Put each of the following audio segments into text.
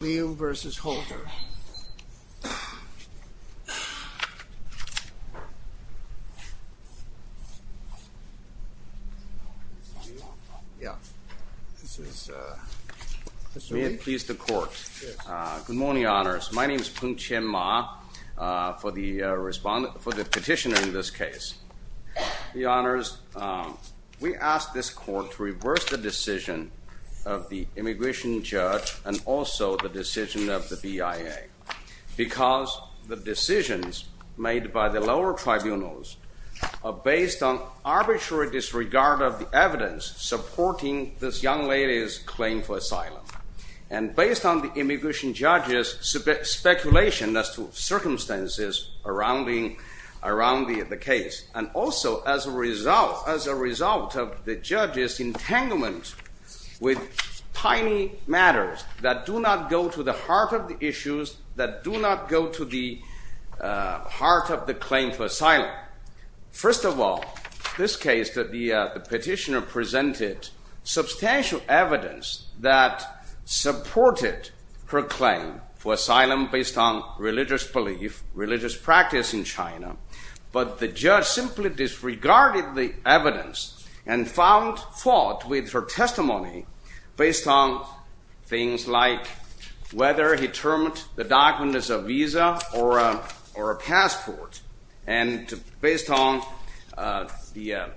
Mr. Liu v. Holder, may it please the court. Good morning, honors. My name is Peng Qianma for the petitioner in this case. The honors, we ask this court to reverse the decision of the immigration judge and also the decision of the BIA, because the decisions made by the lower tribunals are based on arbitrary disregard of the evidence supporting this young lady's claim for asylum, and based on the immigration judge's speculation as to circumstances around the case, and also as a judge's entanglement with tiny matters that do not go to the heart of the issues, that do not go to the heart of the claim for asylum. First of all, this case that the petitioner presented, substantial evidence that supported her claim for asylum based on religious belief, religious practice in China, but the judge simply disregarded the evidence and found fault with her testimony based on things like whether he termed the documents a visa or a passport, and based on the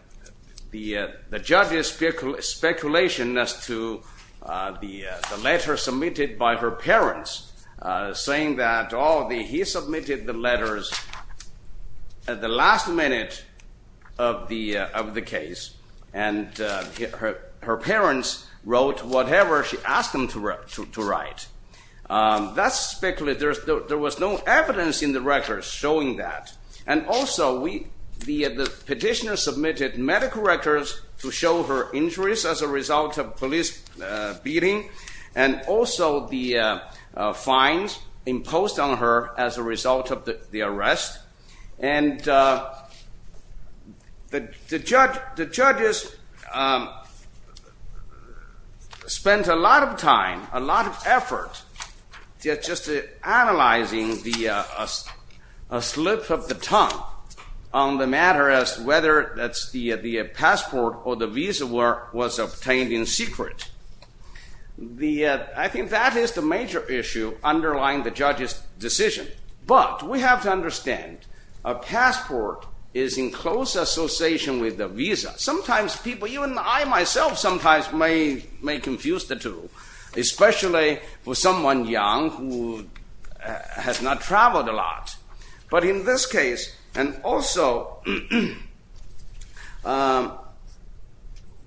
judge's speculation as to the letter submitted by her parents, saying that, oh, he submitted the letters at the last minute of the case, and her parents wrote whatever she asked them to write. There was no evidence in the records showing that. And also, the petitioner submitted medical records to show her injuries as a result of police beating, and also the fines imposed on her as a result of the the judge spent a lot of time, a lot of effort, just analyzing the slip of the tongue on the matter as to whether the passport or the visa was obtained in secret. I think that is the major issue underlying the judge's decision. But we have to understand, a passport is in close association with the visa. Sometimes people, even I myself, sometimes may confuse the two, especially with someone young who has not traveled a lot. But in this case, and also,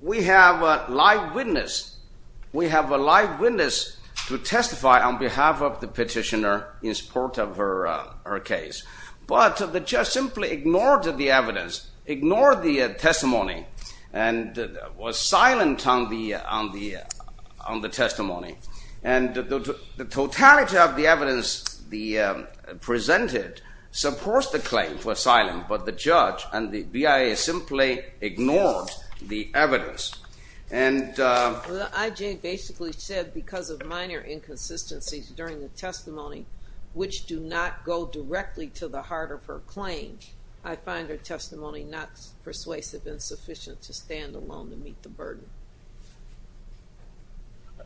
we have a live witness. We have a live witness to testify on behalf of the court of her case. But the judge simply ignored the evidence, ignored the testimony, and was silent on the testimony. And the totality of the evidence presented supports the claim for silence, but the judge and the BIA simply ignored the evidence. And the IJ basically said, because of minor inconsistencies during the testimony, which do not go directly to the heart of her claim, I find her testimony not persuasive and sufficient to stand alone to meet the burden.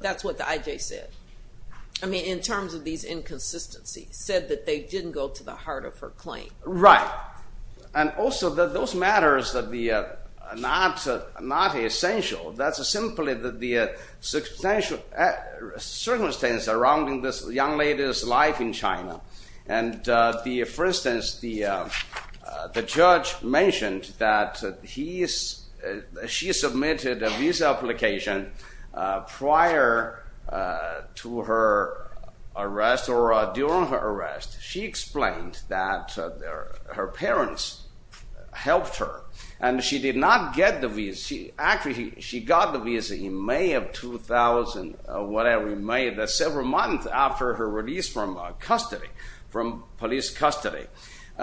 That's what the IJ said. I mean, in terms of these inconsistencies, said that they didn't go to the heart of her claim. Right, and also that those matters that are not essential, that's simply that the circumstances surrounding this young lady's life in China. And for instance, the judge mentioned that she submitted a visa application prior to her arrest or during her arrest. She explained that her parents helped her, and she did not get the visa. Actually, she got the visa in May of 2000, whatever, in May, several months after her release from custody, from police custody.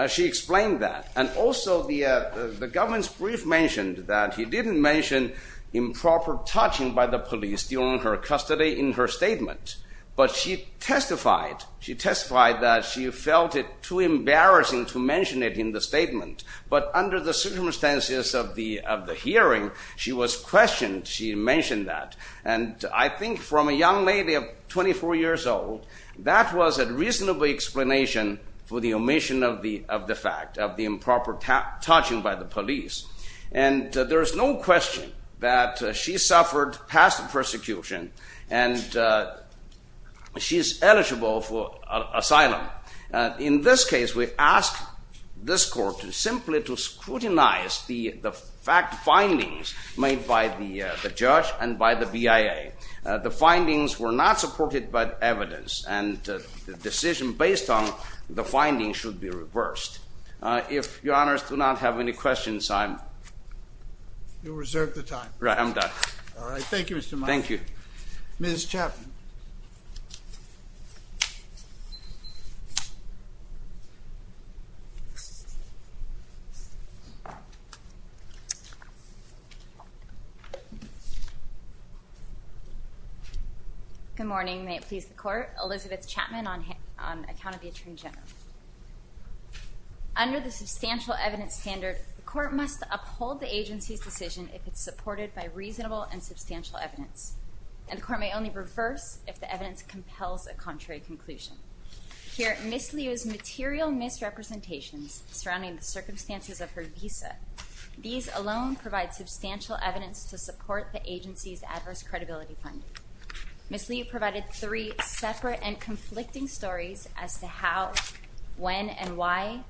She explained that. And also the government's brief mentioned that he didn't mention improper touching by the police during her custody in her statement. But she testified, she testified that she felt it too embarrassing to mention it in the hearing. She was questioned, she mentioned that. And I think from a young lady of 24 years old, that was a reasonable explanation for the omission of the fact of the improper touching by the police. And there's no question that she suffered past persecution, and she's eligible for asylum. In this case, we ask this court to simply scrutinize the fact findings made by the judge and by the BIA. The findings were not supported by evidence, and the decision based on the findings should be reversed. If your honors do not have any questions, I'm... You'll reserve the time. Right, I'm done. All right, thank you, Mr. Good morning, may it please the court. Elizabeth Chapman on account of the attorney general. Under the substantial evidence standard, the court must uphold the agency's decision if it's supported by reasonable and substantial evidence. And the court may only reverse if the evidence compels a contrary conclusion. Here, Ms. Liu's material misrepresentations surrounding the circumstances of her visa, these alone provide substantial evidence to support the agency's adverse credibility finding. Ms. Liu provided three separate and conflicting stories as to how, when, and why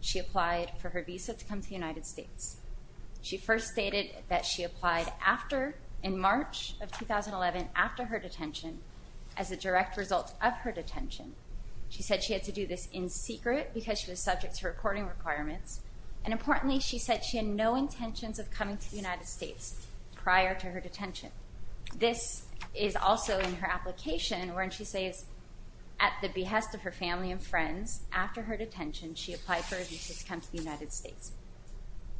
she applied for her visa to come to the United States.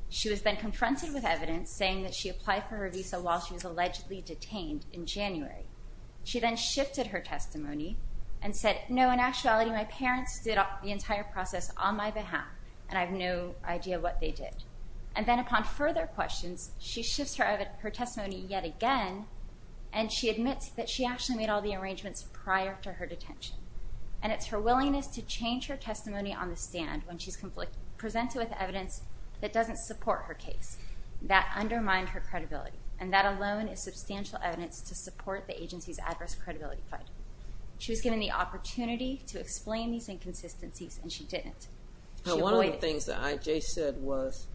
She was then confronted with evidence saying that she had been detained in January. She then shifted her testimony and said, no, in actuality, my parents did the entire process on my behalf, and I have no idea what they did. And then upon further questions, she shifts her testimony yet again, and she admits that she actually made all the arrangements prior to her detention. And it's her willingness to change her testimony on the stand when she's presented with evidence that doesn't support her case that alone is substantial evidence to support the agency's adverse credibility finding. She was given the opportunity to explain these inconsistencies, and she didn't. Now one of the things that IJ said was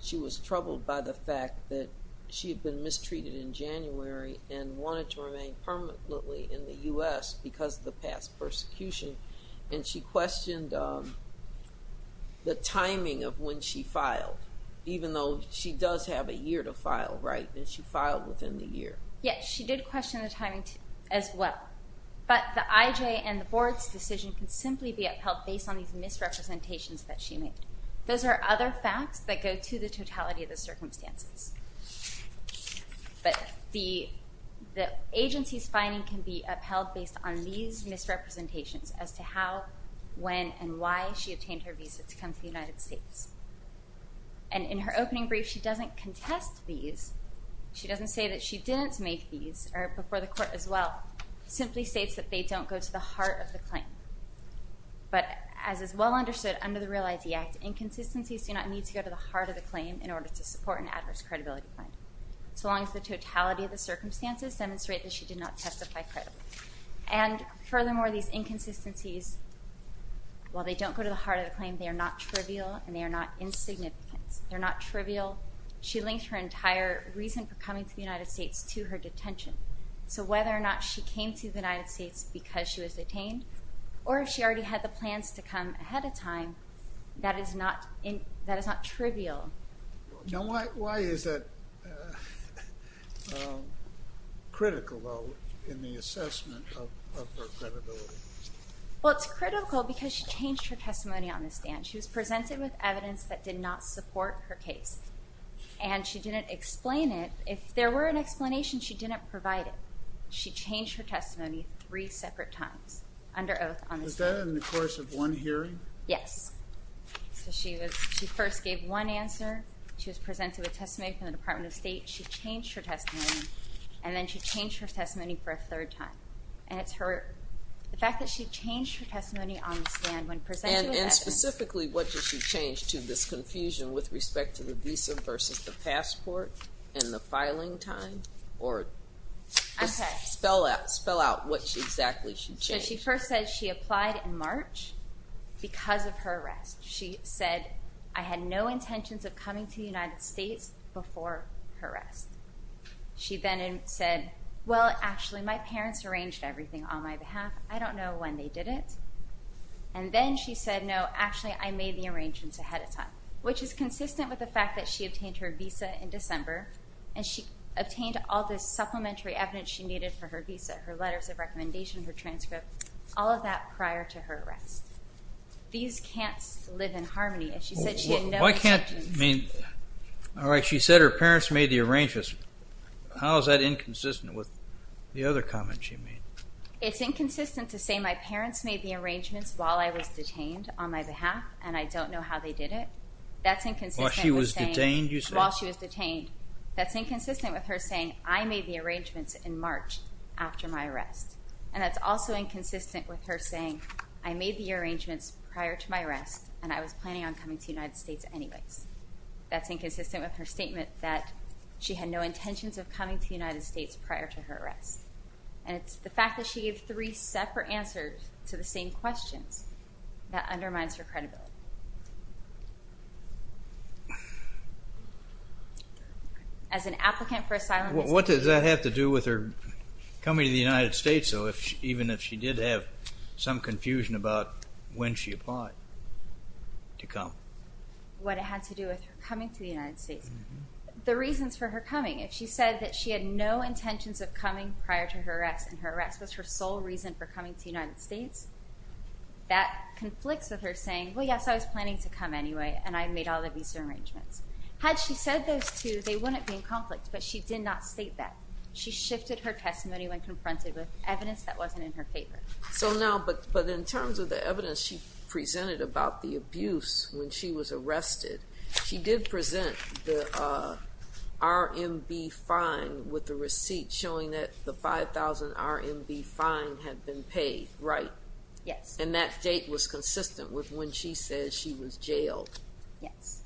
she was troubled by the fact that she had been mistreated in January and wanted to remain permanently in the U.S. because of the past persecution, and she questioned the timing of when she does have a year to file, right, that she filed within the year. Yes, she did question the timing as well, but the IJ and the board's decision can simply be upheld based on these misrepresentations that she made. Those are other facts that go to the totality of the circumstances, but the agency's finding can be upheld based on these misrepresentations as to how, when, and why she obtained her statement. And in her opening brief, she doesn't contest these. She doesn't say that she didn't make these, or before the court as well, simply states that they don't go to the heart of the claim. But as is well understood under the Real ID Act, inconsistencies do not need to go to the heart of the claim in order to support an adverse credibility finding, so long as the totality of the circumstances demonstrate that she did not testify credibly. And furthermore, these inconsistencies, while they don't go to the heart of the claim, they are not trivial and they are not insignificant. They're not trivial. She linked her entire reason for coming to the United States to her detention, so whether or not she came to the United States because she was detained, or if she already had the plans to come ahead of time, that is not trivial. Now why is that critical, though, in the assessment of her credibility? Well, it's critical because she changed her testimony on the stand. She was presented with evidence that did not support her case, and she didn't explain it. If there were an explanation, she didn't provide it. She changed her testimony three separate times, under oath, on the stand. Was that in the course of one hearing? Yes. So she first gave one answer. She was presented with testimony from the Department of State. She changed her testimony, and then she changed her testimony for a third time. And it's her, the fact that she changed her testimony on the stand when presented with evidence. And specifically, what did she change to this confusion with respect to the visa versus the passport and the filing time? Or spell out what exactly she changed. She first said she applied in March because of her arrest. She said, I had no intentions of coming to the United States before her arrest. She then said, well, actually, my parents arranged everything on my behalf. I don't know when they did it. And then she said, no, actually, I made the arrangements ahead of time, which is consistent with the fact that she obtained her visa in December, and she obtained all this supplementary evidence she needed for her visa, her letters of recommendation, her transcript, all of that prior to her arrest. These can't live in harmony. And she said she had no intentions of coming to the United States before her arrest. Why can't, I mean, all right, she said her parents made the arrangements. How is that inconsistent with the other comment she made? It's inconsistent to say my parents made the arrangements while I was detained on my behalf, and I don't know how they did it. That's inconsistent with saying- While she was detained, you said? While she was detained. That's inconsistent with her saying, I made the arrangements in March after my arrest. And that's also inconsistent with her saying, I made the arrangements prior to my arrest, and I was planning on coming to the United States anyways. That's inconsistent with her statement that she had no intentions of coming to the United States prior to her arrest. And it's the fact that she gave three separate answers to the same questions that undermines her credibility. As an applicant for asylum- What does that have to do with her coming to the United States, though, even if she did have some confusion about when she applied to come? What it had to do with her coming to the United States. The reasons for her coming, if she said that she had no intentions of coming prior to her arrest and her arrest was her sole reason for coming to the United States, that conflicts with her saying, well, yes, I was planning to come anyway, and I made all the visa arrangements. Had she said those two, they wouldn't be in conflict, but she did not state that. She shifted her testimony when confronted with evidence that wasn't in her favor. So now, but in terms of the evidence she presented about the abuse when she was had been paid, right? Yes. And that date was consistent with when she said she was jailed. Yes.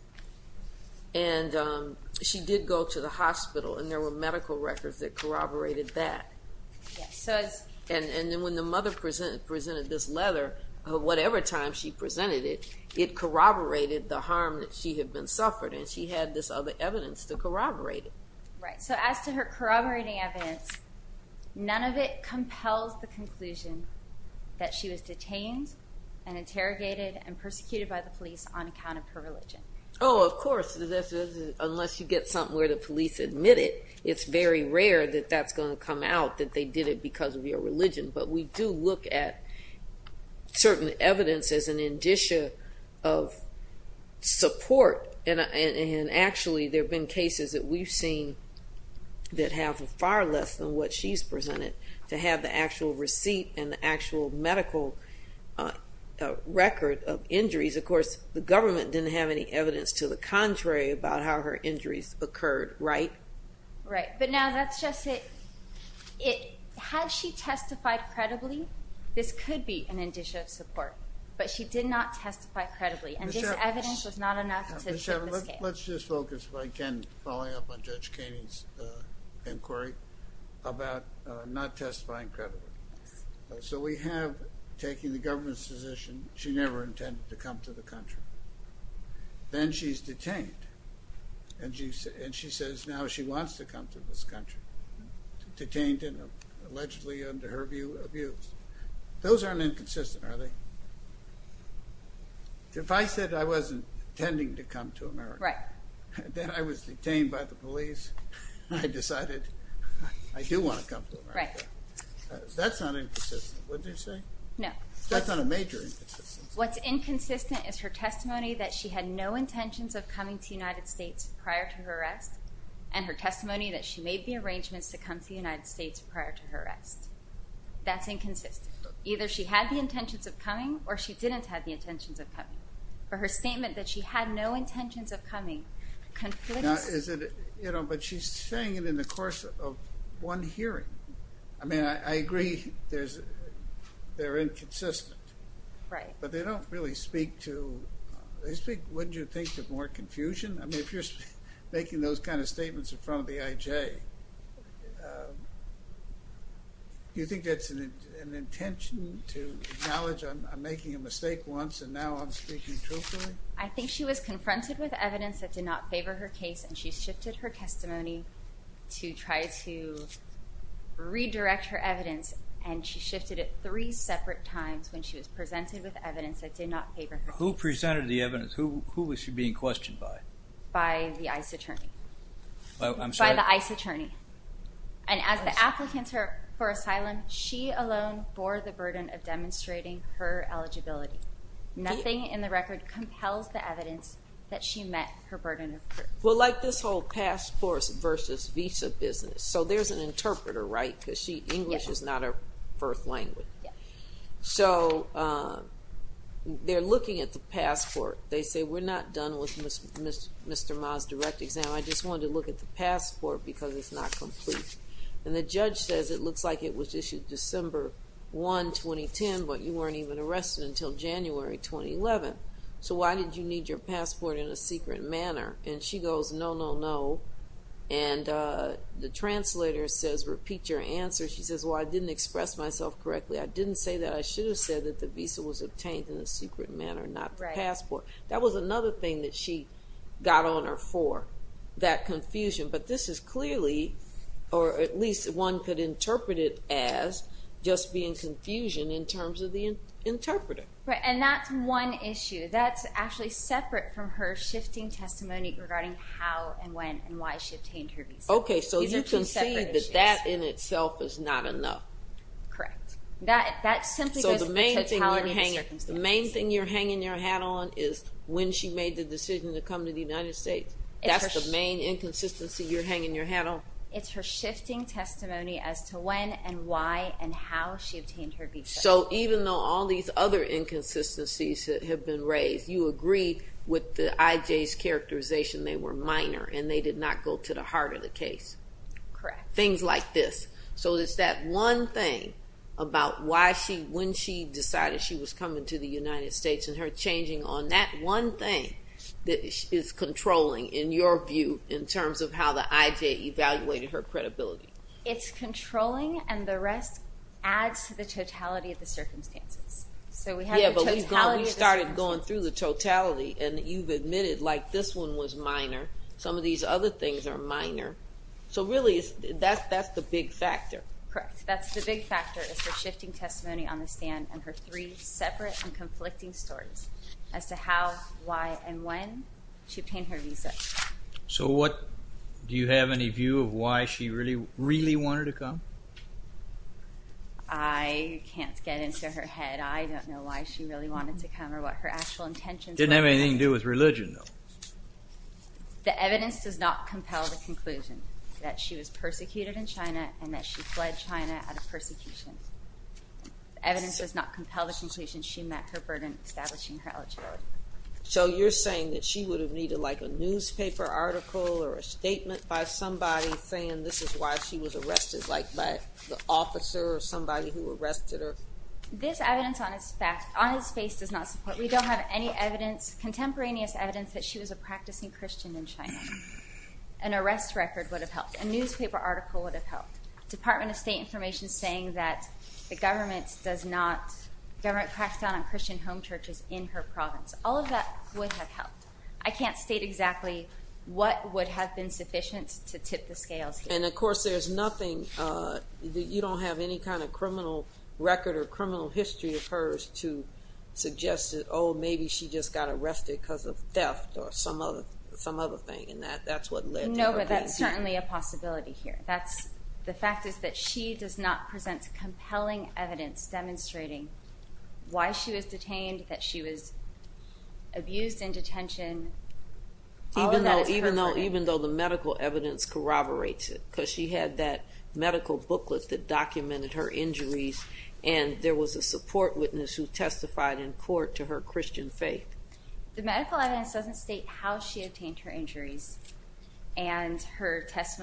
And she did go to the hospital and there were medical records that corroborated that. And then when the mother presented this letter, whatever time she presented it, it corroborated the harm that she had been suffered, and she had this other evidence to corroborate it. Right. So as to her corroborating evidence, none of it compels the conclusion that she was detained and interrogated and persecuted by the police on account of her religion. Oh, of course, unless you get something where the police admit it, it's very rare that that's going to come out that they did it because of your religion. But we do look at certain evidence as an indicia of support. And actually, there have been cases that we've seen that have far less than what she's presented to have the actual receipt and the actual medical record of injuries. Of course, the government didn't have any evidence to the contrary about how her injuries occurred, right? Right. But now that's just it. Had she testified credibly, this could be an indicia of support. But she did not testify credibly. Let's just focus, if I can, following up on Judge Kaney's inquiry, about not testifying credibly. So we have, taking the government's position, she never intended to come to the country. Then she's detained, and she says now she wants to come to this country, detained and allegedly, under her view, those aren't inconsistent, are they? If I said I wasn't intending to come to America, that I was detained by the police, I decided I do want to come to America, that's not inconsistent, would you say? No. That's not a major inconsistency. What's inconsistent is her testimony that she had no intentions of coming to the United States prior to her arrest, and her testimony that she made the arrangements to come to the United States, that's inconsistent. Either she had the intentions of coming, or she didn't have the intentions of coming. For her statement that she had no intentions of coming, conflicts... Now, is it, you know, but she's saying it in the course of one hearing. I mean, I agree there's, they're inconsistent. Right. But they don't really speak to, they speak, wouldn't you think, to more confusion? I mean, if you're making those kind of an intention to acknowledge I'm making a mistake once, and now I'm speaking truthfully? I think she was confronted with evidence that did not favor her case, and she shifted her testimony to try to redirect her evidence, and she shifted it three separate times when she was presented with evidence that did not favor her case. Who presented the evidence? Who was she being questioned by? By the ICE attorney. I'm sorry? By the ICE attorney. And as the applicant for asylum, she alone bore the burden of demonstrating her eligibility. Nothing in the record compels the evidence that she met her burden of proof. Well, like this whole passports versus visa business. So there's an interpreter, right? Because she, English is not her first language. So they're looking at the passport. They say we're not done with Mr. Ma's direct exam. I just wanted to look at the passport because it's not complete. And the judge says it looks like it was issued December 1, 2010, but you weren't even arrested until January 2011. So why did you need your passport in a secret manner? And she goes, no, no, no. And the translator says, repeat your answer. She says, well, I didn't express myself correctly. I didn't say that. I should have said that the visa was obtained in a secret manner, not the got on her for that confusion. But this is clearly, or at least one could interpret it as just being confusion in terms of the interpreter. And that's one issue that's actually separate from her shifting testimony regarding how and when and why she obtained her visa. Okay, so you can see that that in itself is not enough. Correct. That simply goes to the totality of the circumstances. The main thing you're hanging your hat on is when she made the decision to come to the United States. That's the main inconsistency you're hanging your hat on. It's her shifting testimony as to when and why and how she obtained her visa. So even though all these other inconsistencies have been raised, you agree with the IJ's characterization, they were minor and they did not go to the heart of the case. Correct. Things like this. So it's that one thing about why she, when she decided she was coming to the United States and her changing on that one thing that is controlling in your view in terms of how the IJ evaluated her credibility. It's controlling and the rest adds to the totality of the circumstances. So we started going through the totality and you've admitted like this one was minor. Some of these other things are minor. So really that's the big factor. Correct. That's the big factor is her shifting testimony on the stand and her three separate and stories as to how, why, and when she obtained her visa. So what, do you have any view of why she really, really wanted to come? I can't get into her head. I don't know why she really wanted to come or what her actual intentions. Didn't have anything to do with religion though. The evidence does not compel the conclusion that she was persecuted in China and that she fled China out of persecution. Evidence does not compel the conclusion she met her burden establishing her eligibility. So you're saying that she would have needed like a newspaper article or a statement by somebody saying this is why she was arrested like by the officer or somebody who arrested her? This evidence on his back, on his face does not support. We don't have any evidence, contemporaneous evidence, that she was a practicing Christian in China. An arrest record would have helped. A newspaper article would have helped. Department of State information saying that the government does not, government cracks down on Christian home churches in her province. All of that would have helped. I can't state exactly what would have been sufficient to tip the scales. And of course there's nothing, you don't have any kind of criminal record or criminal history of hers to suggest that oh maybe she just got arrested because of theft or some other, some other thing and that that's what led to her being here. No, but that's certainly a possibility here. That's, the does not present compelling evidence demonstrating why she was detained, that she was abused in detention. Even though, even though, even though the medical evidence corroborates it because she had that medical booklet that documented her injuries and there was a support witness who testified in court to her Christian faith. The medical evidence doesn't state how she obtained her injuries and her suggesting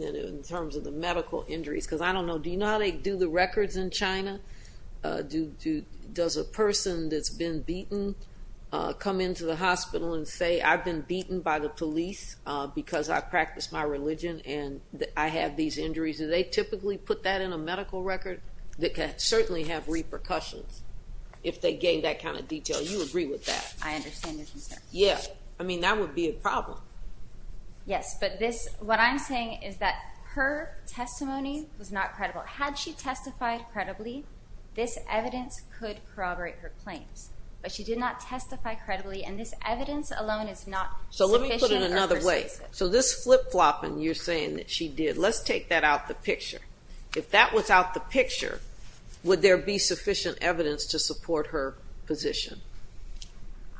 that in terms of the medical injuries, because I don't know, do you know how they do the records in China? Do, does a person that's been beaten come into the hospital and say I've been beaten by the police because I practiced my religion and I have these injuries? Do they typically put that in a medical record? That can certainly have repercussions if they gave that kind of detail. You agree with that? I understand your concern. Yeah, I mean that would be a problem. Yes, but this, what I'm saying is that her testimony was not credible. Had she testified credibly, this evidence could corroborate her claims, but she did not testify credibly and this evidence alone is not sufficient or persuasive. So let me put it another way. So this flip-flopping you're saying that she did, let's take that out the picture. If that was out the picture, would there be sufficient evidence to support her position?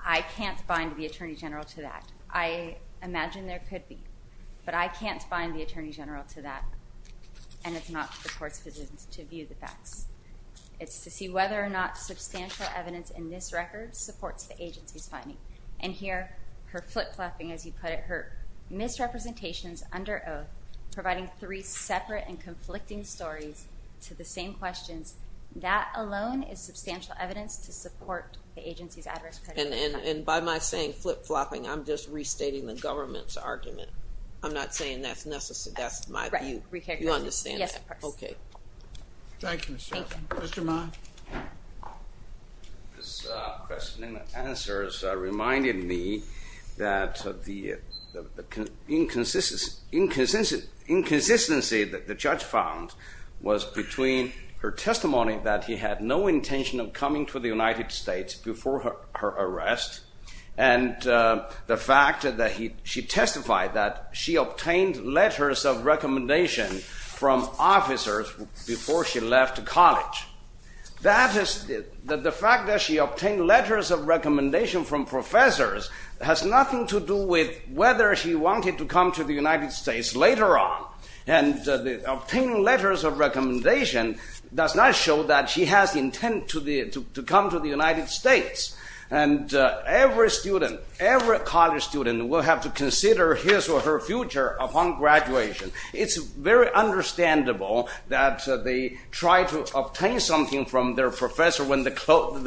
I can't bind the Attorney General to that. I imagine there could be, but I can't bind the Attorney General to that and it's not for the Court's position to view the facts. It's to see whether or not substantial evidence in this record supports the agency's finding. And here, her flip-flopping as you put it, her misrepresentations under oath, providing three separate and conflicting stories to the same questions, that alone is substantial evidence to support the agency's adverse prejudice. And by my saying flip-flopping, I'm just restating the government's argument. I'm not saying that's necessary, that's my view. You understand that? Yes, of course. Okay. Thank you, Ms. Johnson. Mr. Ma? This question and answer reminded me that the inconsistency that the judge found was between her testimony that he had no intention of coming to the United States before her arrest and the fact that she testified that she obtained letters of recommendation from officers before she left college. That is, the fact that she obtained letters of recommendation from professors has nothing to do with whether she wanted to come to the United States later on. And obtaining letters of recommendation does not show that she has intent to come to the United States. And every student, every college student will have to consider his or her future upon graduation. It's very understandable that they try to obtain something from their professor when the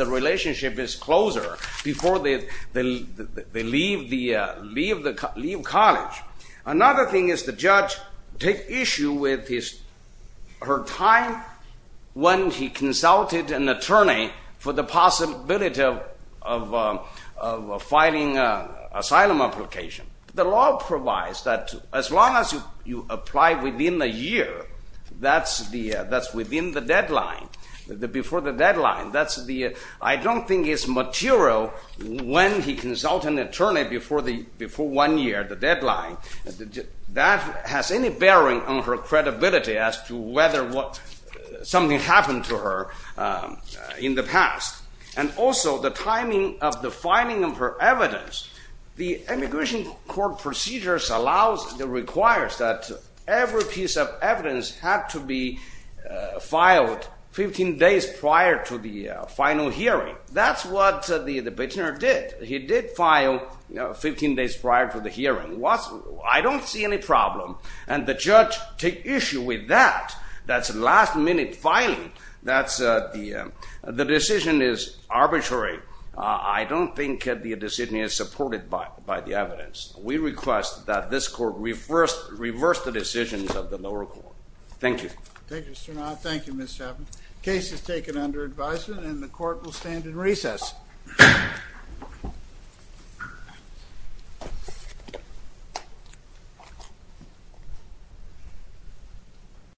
relationship is closer before they leave college. Another thing is the judge takes issue with her time when he consulted an attorney for the possibility of filing an asylum application. The law provides that as long as you apply within a year, that's within the deadline, before the deadline. I don't think it's material when he that has any bearing on her credibility as to whether what something happened to her in the past. And also the timing of the filing of her evidence. The immigration court procedures allows, requires that every piece of evidence had to be filed 15 days prior to the final hearing. That's what the I don't see any problem. And the judge take issue with that. That's a last-minute filing. That's the, the decision is arbitrary. I don't think that the decision is supported by the evidence. We request that this court reverse the decisions of the lower court. Thank you. Thank you, Mr. Navarro. Thank you, Ms. Chapman. Case is taken under advisement and the court will stand in recess.